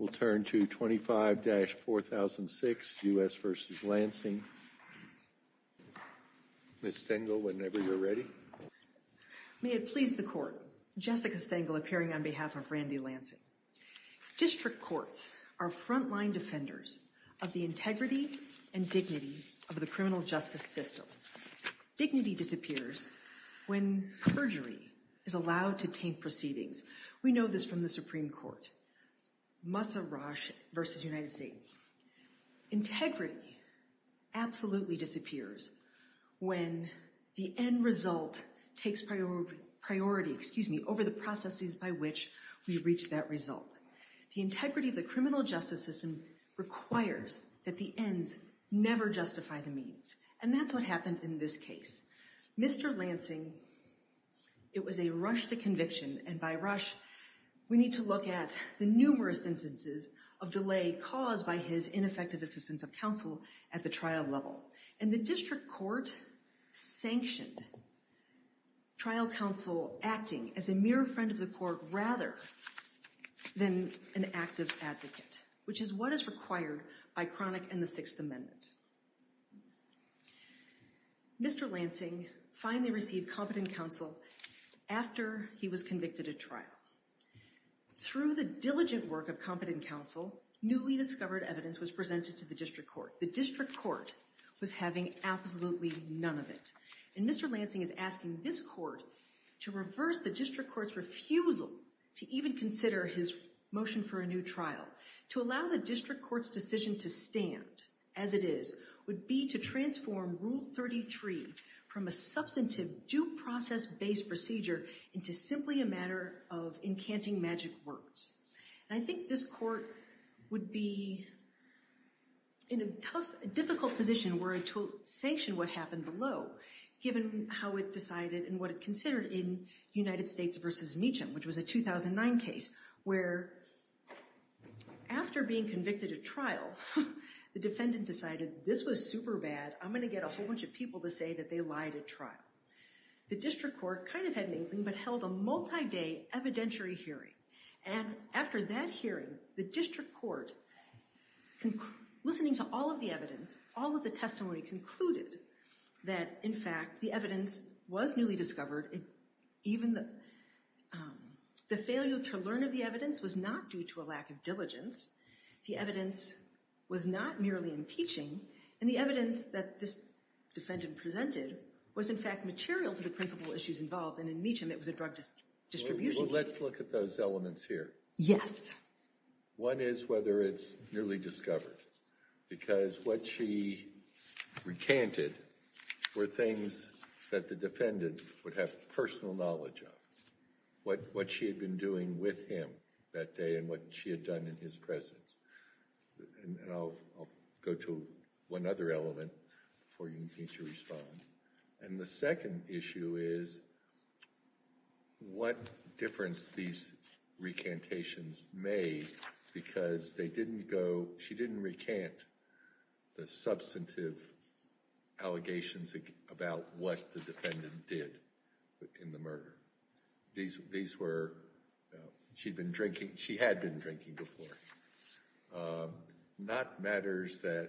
May it please the Court, Jessica Stengel appearing on behalf of Randy Lansing. District Courts are frontline defenders of the integrity and dignity of the criminal justice system. Dignity disappears when perjury is allowed to taint proceedings. We know this from the Supreme Court, Massa Rosh versus United States. Integrity absolutely disappears when the end result takes priority over the processes by which we reach that result. The integrity of the criminal justice system requires that the ends never justify the means. And that's what happened in this case. Mr. Lansing, it was a rush to conviction and by rush we need to look at the numerous instances of delay caused by his ineffective assistance of counsel at the trial level. And the District Court sanctioned trial counsel acting as a mere friend of the court rather than an active advocate, which is what is required by Chronic and the Sixth Amendment. Mr. Lansing finally received competent counsel after he was convicted at trial. Through the diligent work of competent counsel, newly discovered evidence was presented to the District Court. The District Court was having absolutely none of it. And Mr. Lansing is asking this court to reverse the District Court's refusal to even consider his motion for a new trial. To allow the District Court's decision to stand as it is would be to transform Rule 33 from a substantive due process based procedure into simply a matter of encanting magic words. And I think this court would be in a tough, difficult position were it to sanction what happened below, given how it decided and what it considered in United States v. Meacham, which was a 2009 case where after being convicted at trial, the defendant decided this was super bad, I'm going to get a whole bunch of people to say that they lied at trial. The District Court kind of had an inkling but held a multi-day evidentiary hearing. And after that hearing, the District Court, listening to all of the evidence, all of the testimony, concluded that in fact the evidence was newly discovered. Even the failure to learn of the evidence was not due to a lack of diligence. The evidence was not merely impeaching. And the evidence that this defendant presented was in fact material to the principal issues involved and in Meacham it was a drug distribution case. Let's look at those elements here. Yes. One is whether it's newly discovered. Because what she recanted were things that the defendant would have personal knowledge of. What she had been doing with him that day and what she had done in his presence. And I'll go to one other element before you need to respond. And the second issue is what difference these recantations made because they didn't go, she didn't recant the substantive allegations about what the defendant did in the murder. These were, she had been drinking before. Not matters that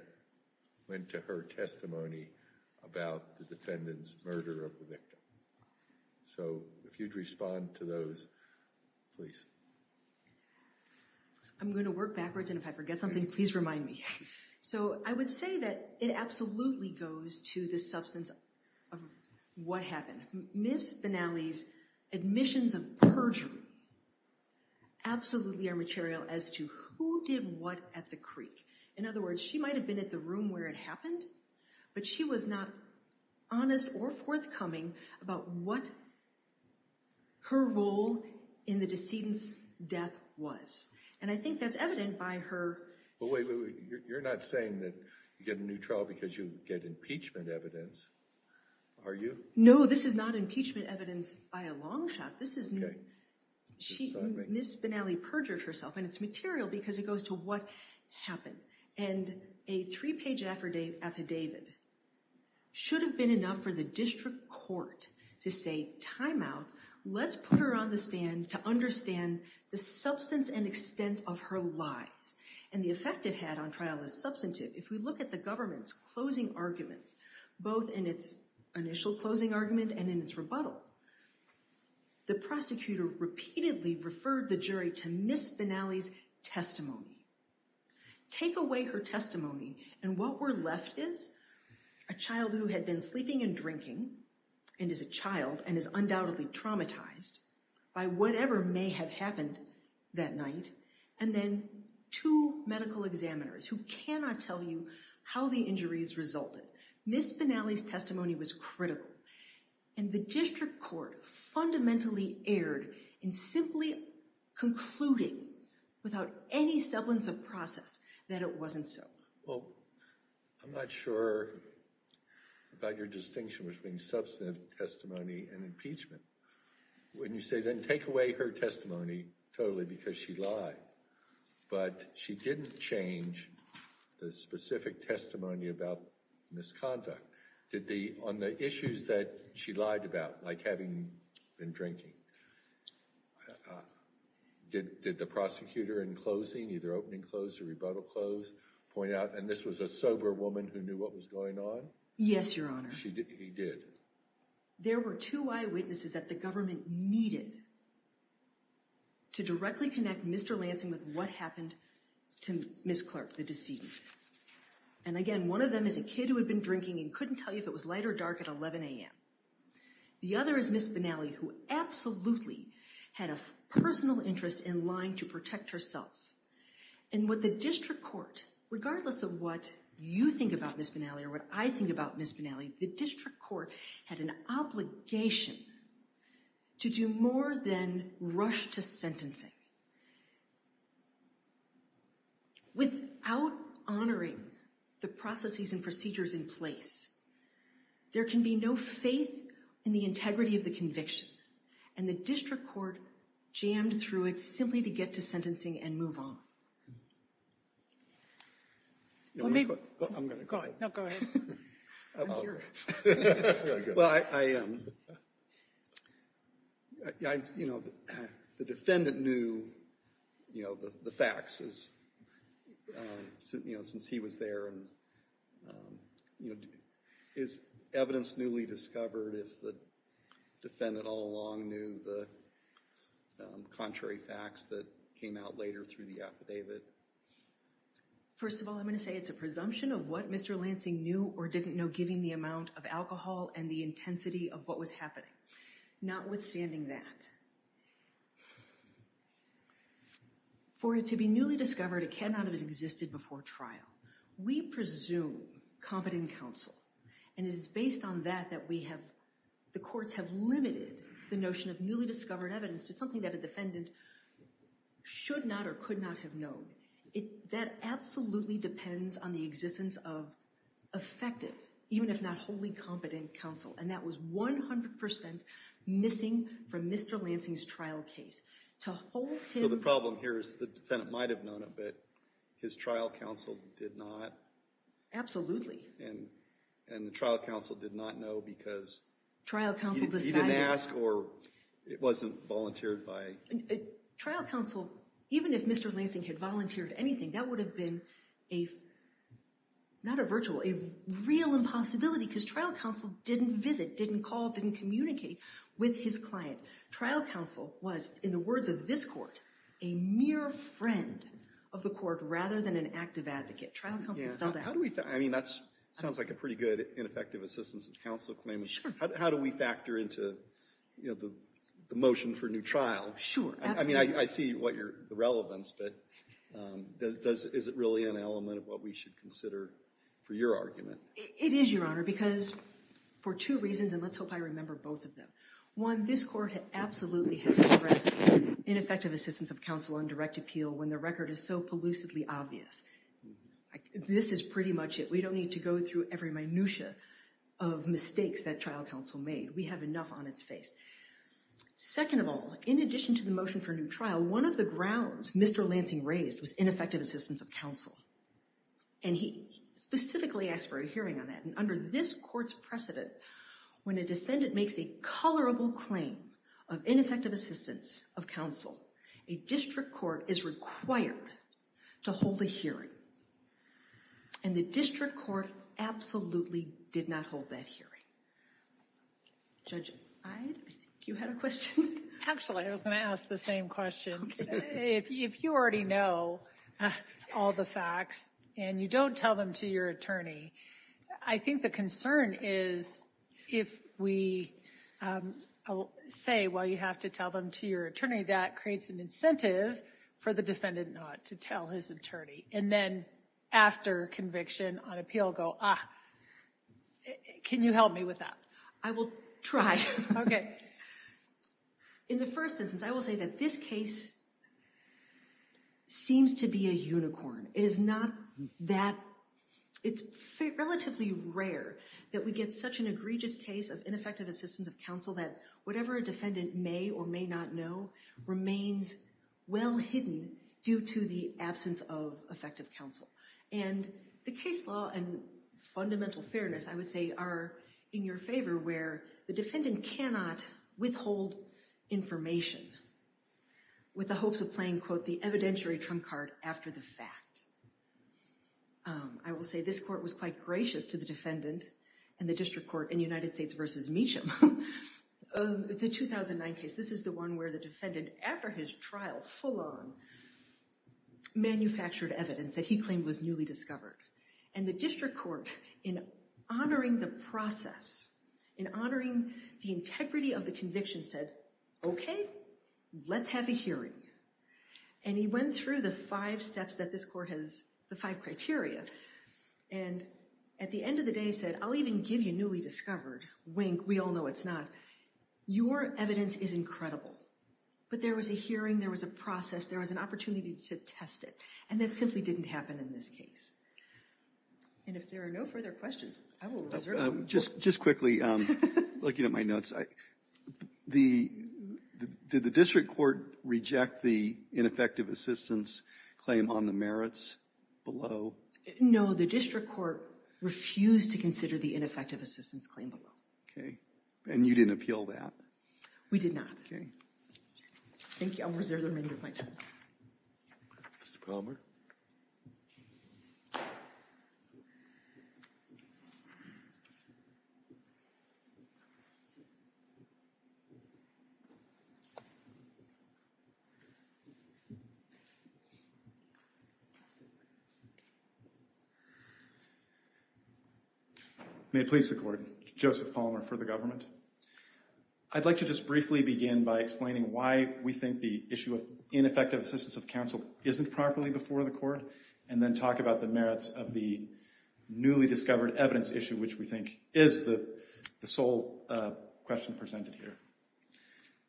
went to her testimony about the defendant's murder of the victim. So, if you'd respond to those, please. I'm going to work backwards and if I forget something, please remind me. So, I would say that it absolutely goes to the substance of what happened. Ms. Benally's admissions of perjury absolutely are material as to who did what at the creek. In other words, she might have been at the room where it happened, but she was not honest or forthcoming about what her role in the decedent's death was. And I think that's evident by her. But wait, you're not saying that you get a new trial because you get impeachment evidence, are you? No, this is not impeachment evidence by a long shot. Ms. Benally perjured herself and it's material because it goes to what happened. And a three-page affidavit should have been enough for the district court to say, time out, let's put her on the stand to understand the substance and extent of her lies. And the effect it had on trial is substantive. If we look at the government's closing arguments, both in its initial closing argument and in its rebuttal, the prosecutor repeatedly referred the jury to Ms. Benally's testimony. Take away her testimony and what we're left is a child who had been sleeping and drinking and is a child and is undoubtedly traumatized by whatever may have happened that night. And then two medical examiners who cannot tell you how the injuries resulted. Ms. Benally's testimony was critical. And the district court fundamentally erred in simply concluding without any semblance of process that it wasn't so. Well, I'm not sure about your distinction between substantive testimony and impeachment. When you say then take away her testimony, totally because she lied, but she didn't change the specific testimony about misconduct. On the issues that she lied about, like having been drinking, did the prosecutor in closing, either opening close or rebuttal close, point out, and this was a sober woman who knew what was going on? Yes, Your Honor. He did. There were two eyewitnesses that the government needed to directly connect Mr. Lansing with what happened to Ms. Clark, the deceived. And again, one of them is a kid who had been drinking and couldn't tell you if it was light or dark at 11 a.m. The other is Ms. Benally, who absolutely had a personal interest in lying to protect herself. And what the district court, regardless of what you think about Ms. Benally or what I think about Ms. Benally, the district court had an obligation to do more than rush to sentencing. Without honoring the processes and procedures in place, there can be no faith in the integrity of the conviction. And the district court jammed through it simply to get to sentencing and move on. I'm going to go ahead. No, go ahead. I'm curious. Well, I, you know, the defendant knew, you know, the facts, you know, since he was there and, you know, is evidence newly discovered if the defendant all along knew the contrary facts that came out later through the affidavit. First of all, I'm going to say it's a presumption of what Mr. Lansing knew or didn't know, given the amount of alcohol and the intensity of what was happening. Not withstanding that. For it to be newly discovered, it cannot have existed before trial. We presume competent counsel. And it is based on that that we have, the courts have limited the notion of newly discovered evidence to something that a defendant should not or could not have known. That absolutely depends on the existence of effective, even if not wholly competent counsel. And that was 100% missing from Mr. Lansing's trial case. To hold him. So the problem here is the defendant might have known it, but his trial counsel did not. Absolutely. And the trial counsel did not know because he didn't ask or it wasn't volunteered by. Trial counsel, even if Mr. Lansing had volunteered anything, that would have been a, not a virtual, a real impossibility because trial counsel didn't visit, didn't call, didn't communicate with his client. Trial counsel was, in the words of this court, a mere friend of the court rather than an active advocate. Trial counsel felt that. How do we, I mean, that's, sounds like a pretty good ineffective assistance of counsel claim. How do we factor into, you know, the motion for new trial? Sure. I mean, I see what your, the relevance, but does, is it really an element of what we should consider for your argument? It is, Your Honor, because for two reasons, and let's hope I remember both of them. One, this court absolutely has progressed ineffective assistance of counsel on direct appeal when the record is so elusively obvious. This is pretty much it. We don't need to go through every minutia of mistakes that trial counsel made. We have enough on its face. Second of all, in addition to the motion for new trial, one of the grounds Mr. Lansing raised was ineffective assistance of counsel. And he specifically asked for a hearing on that. And under this court's precedent, when a defendant makes a colorable claim of ineffective assistance of counsel, a district court is required to hold a hearing. And the district court absolutely did not hold that hearing. Judge Iyed, I think you had a question. Actually, I was going to ask the same question. If you already know all the facts and you don't tell them to your attorney, I think the concern is if we say, well, you have to tell them to your attorney, that creates an incentive for the defendant not to tell his attorney. And then after conviction on appeal, go, ah, can you help me with that? I will try. OK. In the first instance, I will say that this case seems to be a unicorn. It is not that it's relatively rare that we get such an egregious case of ineffective assistance of counsel that whatever a defendant may or may not know remains well hidden due to the absence of effective counsel. And the case law and fundamental fairness, I would say, are in your favor where the defendant cannot withhold information with the hopes of playing, quote, the evidentiary trump card after the fact. I will say this court was quite gracious to the defendant and the district court in United States v. Meacham. It's a 2009 case. This is the one where the defendant, after his trial full on, manufactured evidence that he claimed was newly discovered. And the district court, in honoring the process, in honoring the integrity of the conviction, said, OK, let's have a hearing. And he went through the five steps that this court has, the five criteria, and at the end of the day said, I'll even give you newly discovered. Wink. We all know it's not. Your evidence is incredible. But there was a hearing. There was a process. There was an opportunity to test it. And that simply didn't happen in this case. And if there are no further questions, I will reserve them. Just quickly, looking at my notes, did the district court reject the ineffective assistance claim on the merits below? No, the district court refused to consider the ineffective assistance claim below. OK. And you didn't appeal that? We did not. OK. Thank you. I'll reserve the remainder of my time. Mr. Palmer? May it please the court, Joseph Palmer for the government. I'd like to just briefly begin by explaining why we think the issue of ineffective assistance of counsel isn't properly before the court, and then talk about the merits of the newly discovered evidence issue, which we think is the sole question presented here.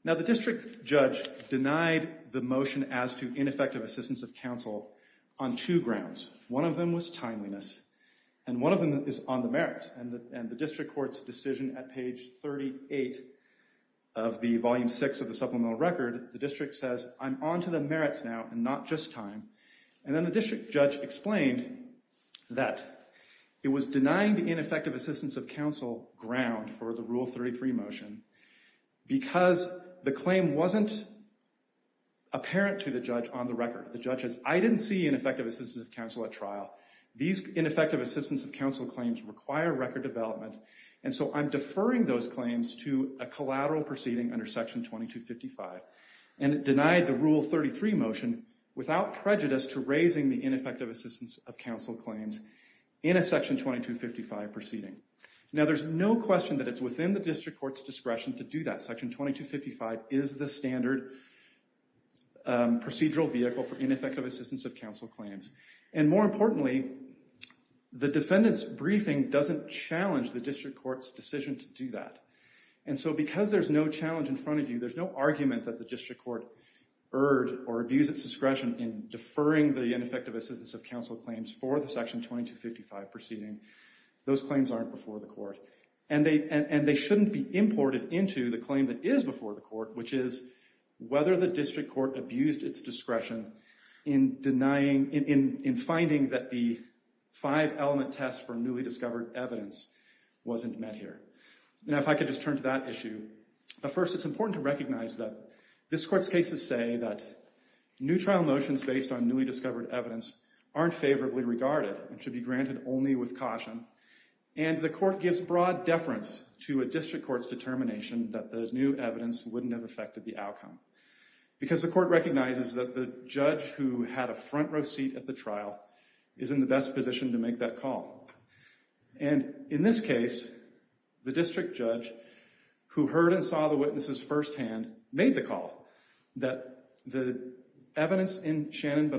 Now, the district judge denied the motion as to ineffective assistance of counsel on two grounds. One of them was timeliness, and one of them is on the merits. And the district court's decision at page 38 of the volume 6 of the supplemental record, the district says, I'm on to the merits now and not just time. And then the district judge explained that it was denying the ineffective assistance of counsel ground for the Rule 33 motion because the claim wasn't apparent to the judge on the record. The judge says, I didn't see ineffective assistance of counsel at trial. These ineffective assistance of counsel claims require record development, and so I'm deferring those claims to a collateral proceeding under Section 2255. And it denied the Rule 33 motion without prejudice to raising the ineffective assistance of counsel claims in a Section 2255 proceeding. Now, there's no question that it's within the district court's discretion to do that. Section 2255 is the standard procedural vehicle for ineffective assistance of counsel claims. And more importantly, the defendant's briefing doesn't challenge the district court's decision to do that. And so because there's no challenge in front of you, there's no argument that the district court erred or abused its discretion in deferring the ineffective assistance of counsel claims for the Section 2255 proceeding. Those claims aren't before the court. And they shouldn't be imported into the claim that is before the court, which is whether the district court abused its discretion in denying, in finding that the five-element test for newly discovered evidence wasn't met here. Now, if I could just turn to that issue. First, it's important to recognize that this court's cases say that new trial motions based on newly discovered evidence aren't favorably regarded and should be granted only with caution. And the court gives broad deference to a district court's determination that the new evidence wouldn't have affected the outcome. Because the court recognizes that the judge who had a front-row seat at the trial is in the best position to make that call. And in this case, the district judge, who heard and saw the witnesses firsthand, made the call that the evidence in Shannon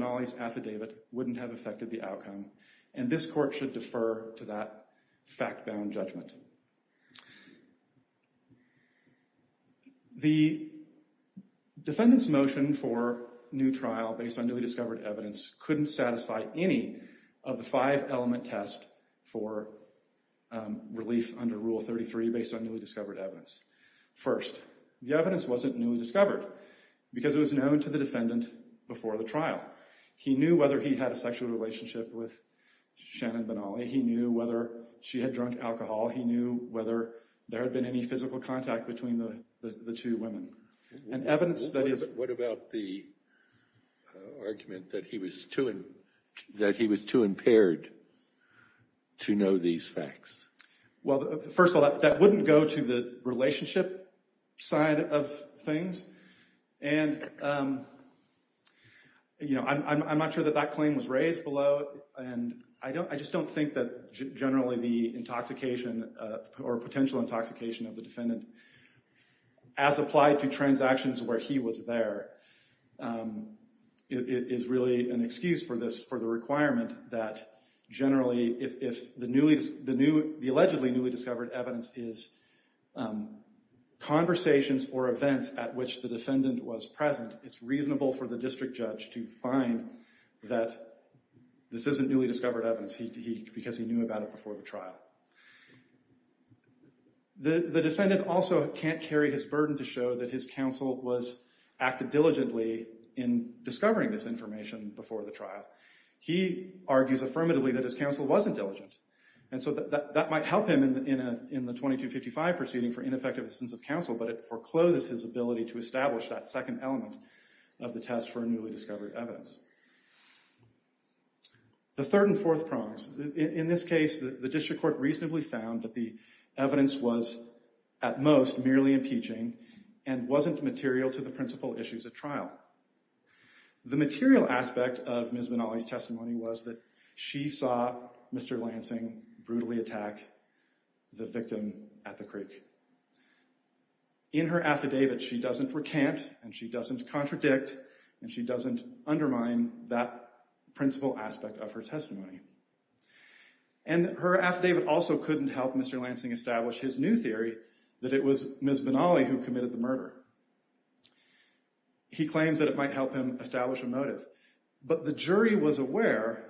The defendant's motion for new trial based on newly discovered evidence couldn't satisfy any of the five-element test for relief under Rule 33 based on newly discovered evidence. First, the evidence wasn't newly discovered because it was known to the defendant before the trial. He knew whether he had a sexual What about the argument that he was too impaired to know these facts? Well, first of all, that wouldn't go to the relationship side of things. And, you know, I'm not sure that that claim was raised below. And I just don't think that generally the intoxication or potential intoxication of the defendant, as applied to transactions where he was there, is really an excuse for this, for the requirement that generally, if the allegedly newly discovered evidence is conversations or events at which the defendant was present, it's reasonable for the district judge to find that this isn't newly discovered evidence because he knew about it before the trial. The defendant also can't carry his burden to show that his counsel was active diligently in discovering this information before the trial. He argues affirmatively that his counsel wasn't diligent. And so that might help him in the 2255 proceeding for ineffective assistance of counsel, but it forecloses his ability to establish that second element of the test for newly discovered evidence. The third and fourth prongs. In this case, the district court reasonably found that the evidence was, at most, merely impeaching and wasn't material to the principal critique. In her affidavit, she doesn't recant and she doesn't contradict and she doesn't undermine that principal aspect of her testimony. And her affidavit also couldn't help Mr. Lansing establish his new theory that it was Ms. Benally who committed the murder. He claims that it might help him establish a motive. But the jury was aware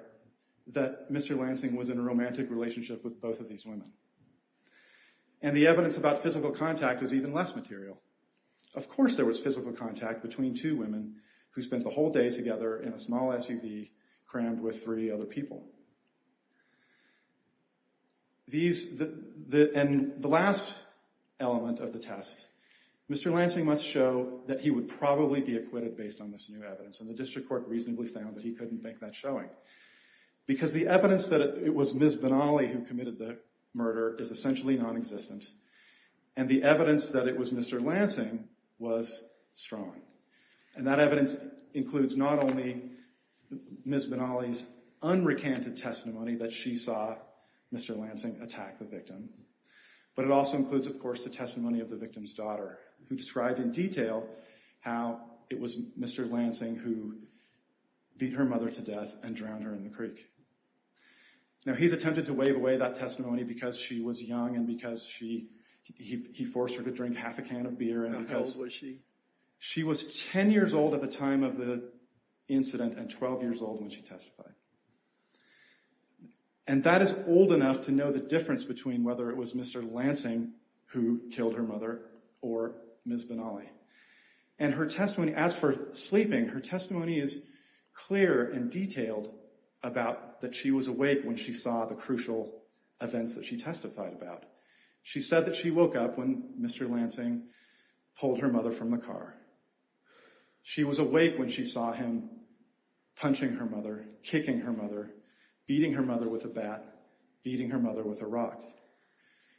that Mr. Lansing was in a romantic relationship with both of these women. And the evidence about physical contact was even less material. Of course there was physical contact between two women who spent the whole day together in a small SUV crammed with three other people. And the last element of the test. Mr. Lansing must show that he would probably be acquitted based on this new evidence. And the district court reasonably found that he couldn't make that showing. Because the evidence that it was Ms. Benally who committed the murder is essentially non-existent. And the evidence that it was Mr. Lansing was strong. And that evidence includes not only Ms. Benally's unrecanted testimony that she saw Mr. Lansing attack the victim, but it also includes of course the testimony of the victim's daughter who described in detail how it was Mr. Lansing who beat her mother to death and drowned her in the creek. Now he's attempted to waive away that testimony because she was young and because he forced her to drink half a can of beer. How old was she? She was 10 years old at the time of the incident and 12 years old when she testified. And that is old enough to know the difference between whether it was Mr. Lansing who killed her mother or Ms. Benally. And her testimony, as for sleeping, her testimony is clear and detailed about that she was awake when she saw the crucial events that she testified about. She said that she woke up when Mr. Lansing pulled her mother from the car. She was awake when she saw him punching her mother, kicking her mother, beating her mother with a bat, beating her mother with a rock.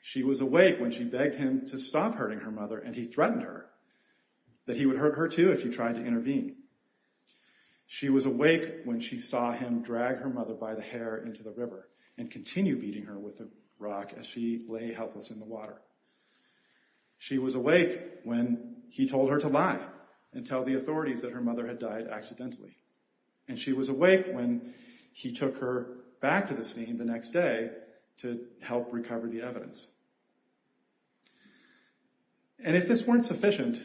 She was awake when she begged him to stop hurting her mother and he threatened her that he would hurt her too if she tried to intervene. She was awake when she saw him drag her mother by the hair into the river and continue beating her with a rock as she lay helpless in the water. She was awake when he told her to lie and tell the authorities that her mother had died accidentally. And she was awake when he took her back to the scene the next day to help recover the evidence. And if this weren't sufficient,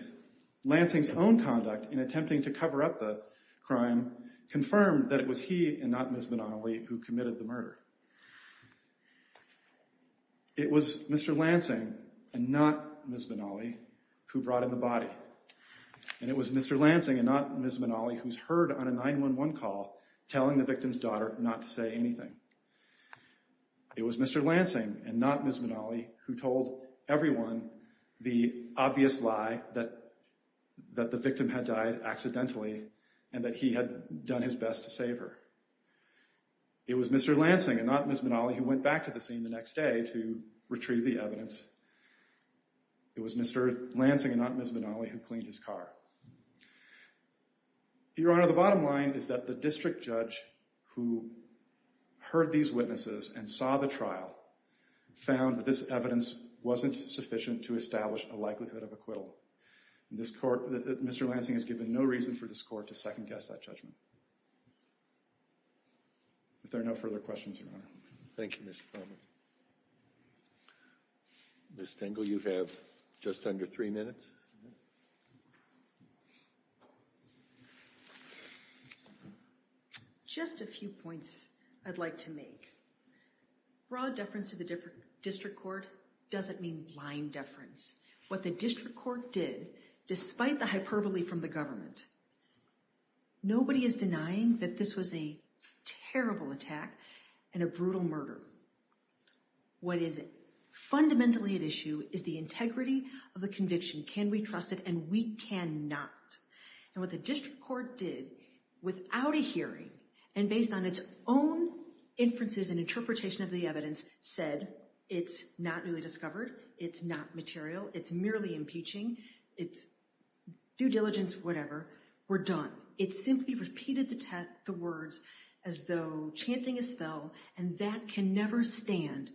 Lansing's own conduct in attempting to cover up the crime confirmed that it was he and not Ms. Benally who committed the murder. It was Mr. Lansing and not Ms. Benally who brought in the body. And it was Mr. Lansing and not Ms. Benally who's heard on a 911 call telling the victim's daughter not to say anything. It was Mr. Lansing and not Ms. Benally who told everyone the obvious lie that the victim had died accidentally and that he had done his best to save her. It was Mr. Lansing and not Ms. Benally who went back to the scene the next day to retrieve the evidence. It was Mr. Lansing and not Ms. Benally who cleaned his car. Your Honor, the bottom line is that the district judge who heard these witnesses and saw the trial found that this evidence wasn't sufficient to establish a likelihood of acquittal. Mr. Lansing has given no reason for this court to second-guess that judgment. If there are no further questions, Your Honor. Thank you, Mr. Palmer. Ms. Stengel, you have just under three minutes. Just a few points I'd like to make. Raw deference to the district court doesn't mean lying deference. What the district court did, despite the hyperbole from the government, nobody is denying that this was a terrible attack and a brutal murder. What is fundamentally at issue is the integrity of the conviction. Can we trust it? And we cannot. And what the district court did, without a hearing, and based on its own inferences and interpretation of the evidence, said it's not newly discovered, it's not material, it's merely impeaching, it's due diligence, whatever. We're done. It simply repeated the words as though chanting a spell, and that can never stand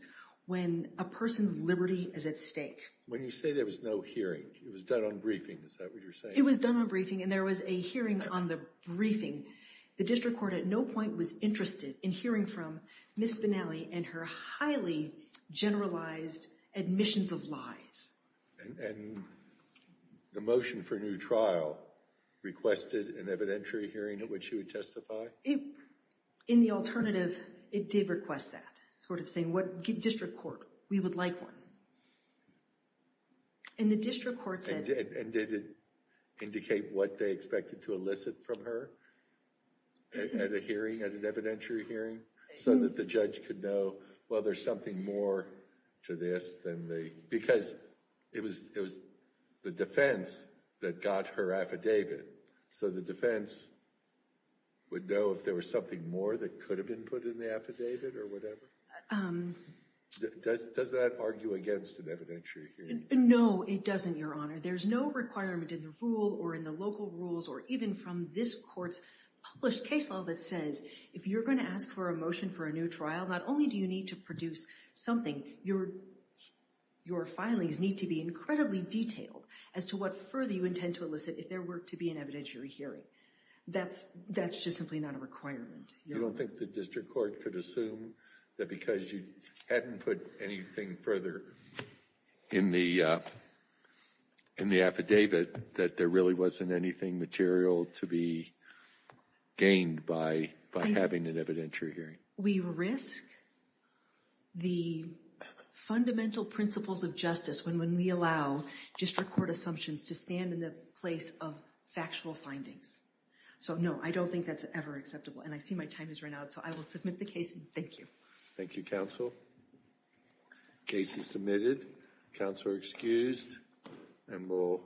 when a person's liberty is at stake. When you say there was no hearing, it was done on briefing, is that what you're saying? It was done on briefing, and there was a hearing on the briefing. The district court at no point was interested in hearing from Ms. Spinelli and her highly generalized admissions of lies. And the motion for new trial requested an evidentiary hearing at which she would testify? In the alternative, it did request that, sort of saying what district court, we would like one. And the district court said... And did it indicate what they expected to elicit from her at a hearing, at an evidentiary hearing, so that the judge could know, well, there's something more to this than the... Because it was the defense that got her affidavit. So the defense would know if there was something more that could have been put in the affidavit, or whatever? Does that argue against an evidentiary hearing? No, it doesn't, Your Honor. There's no requirement in the rule, or in the local rules, or even from this court's published case law that says, if you're going to ask for a motion for a new trial, not only do you need to produce something, your filings need to be incredibly detailed as to what further you intend to elicit if there were to be an evidentiary hearing. That's just simply not a requirement. I don't think the district court could assume that because you hadn't put anything further in the affidavit that there really wasn't anything material to be gained by having an evidentiary hearing. We risk the fundamental principles of justice when we allow district court assumptions to stand in the place of factual findings. So, no, I don't think that's ever acceptable. And I see my time has run out, so I will submit the case, and thank you. Thank you, counsel. Case is submitted. Counsel are excused, and we'll give it back to you.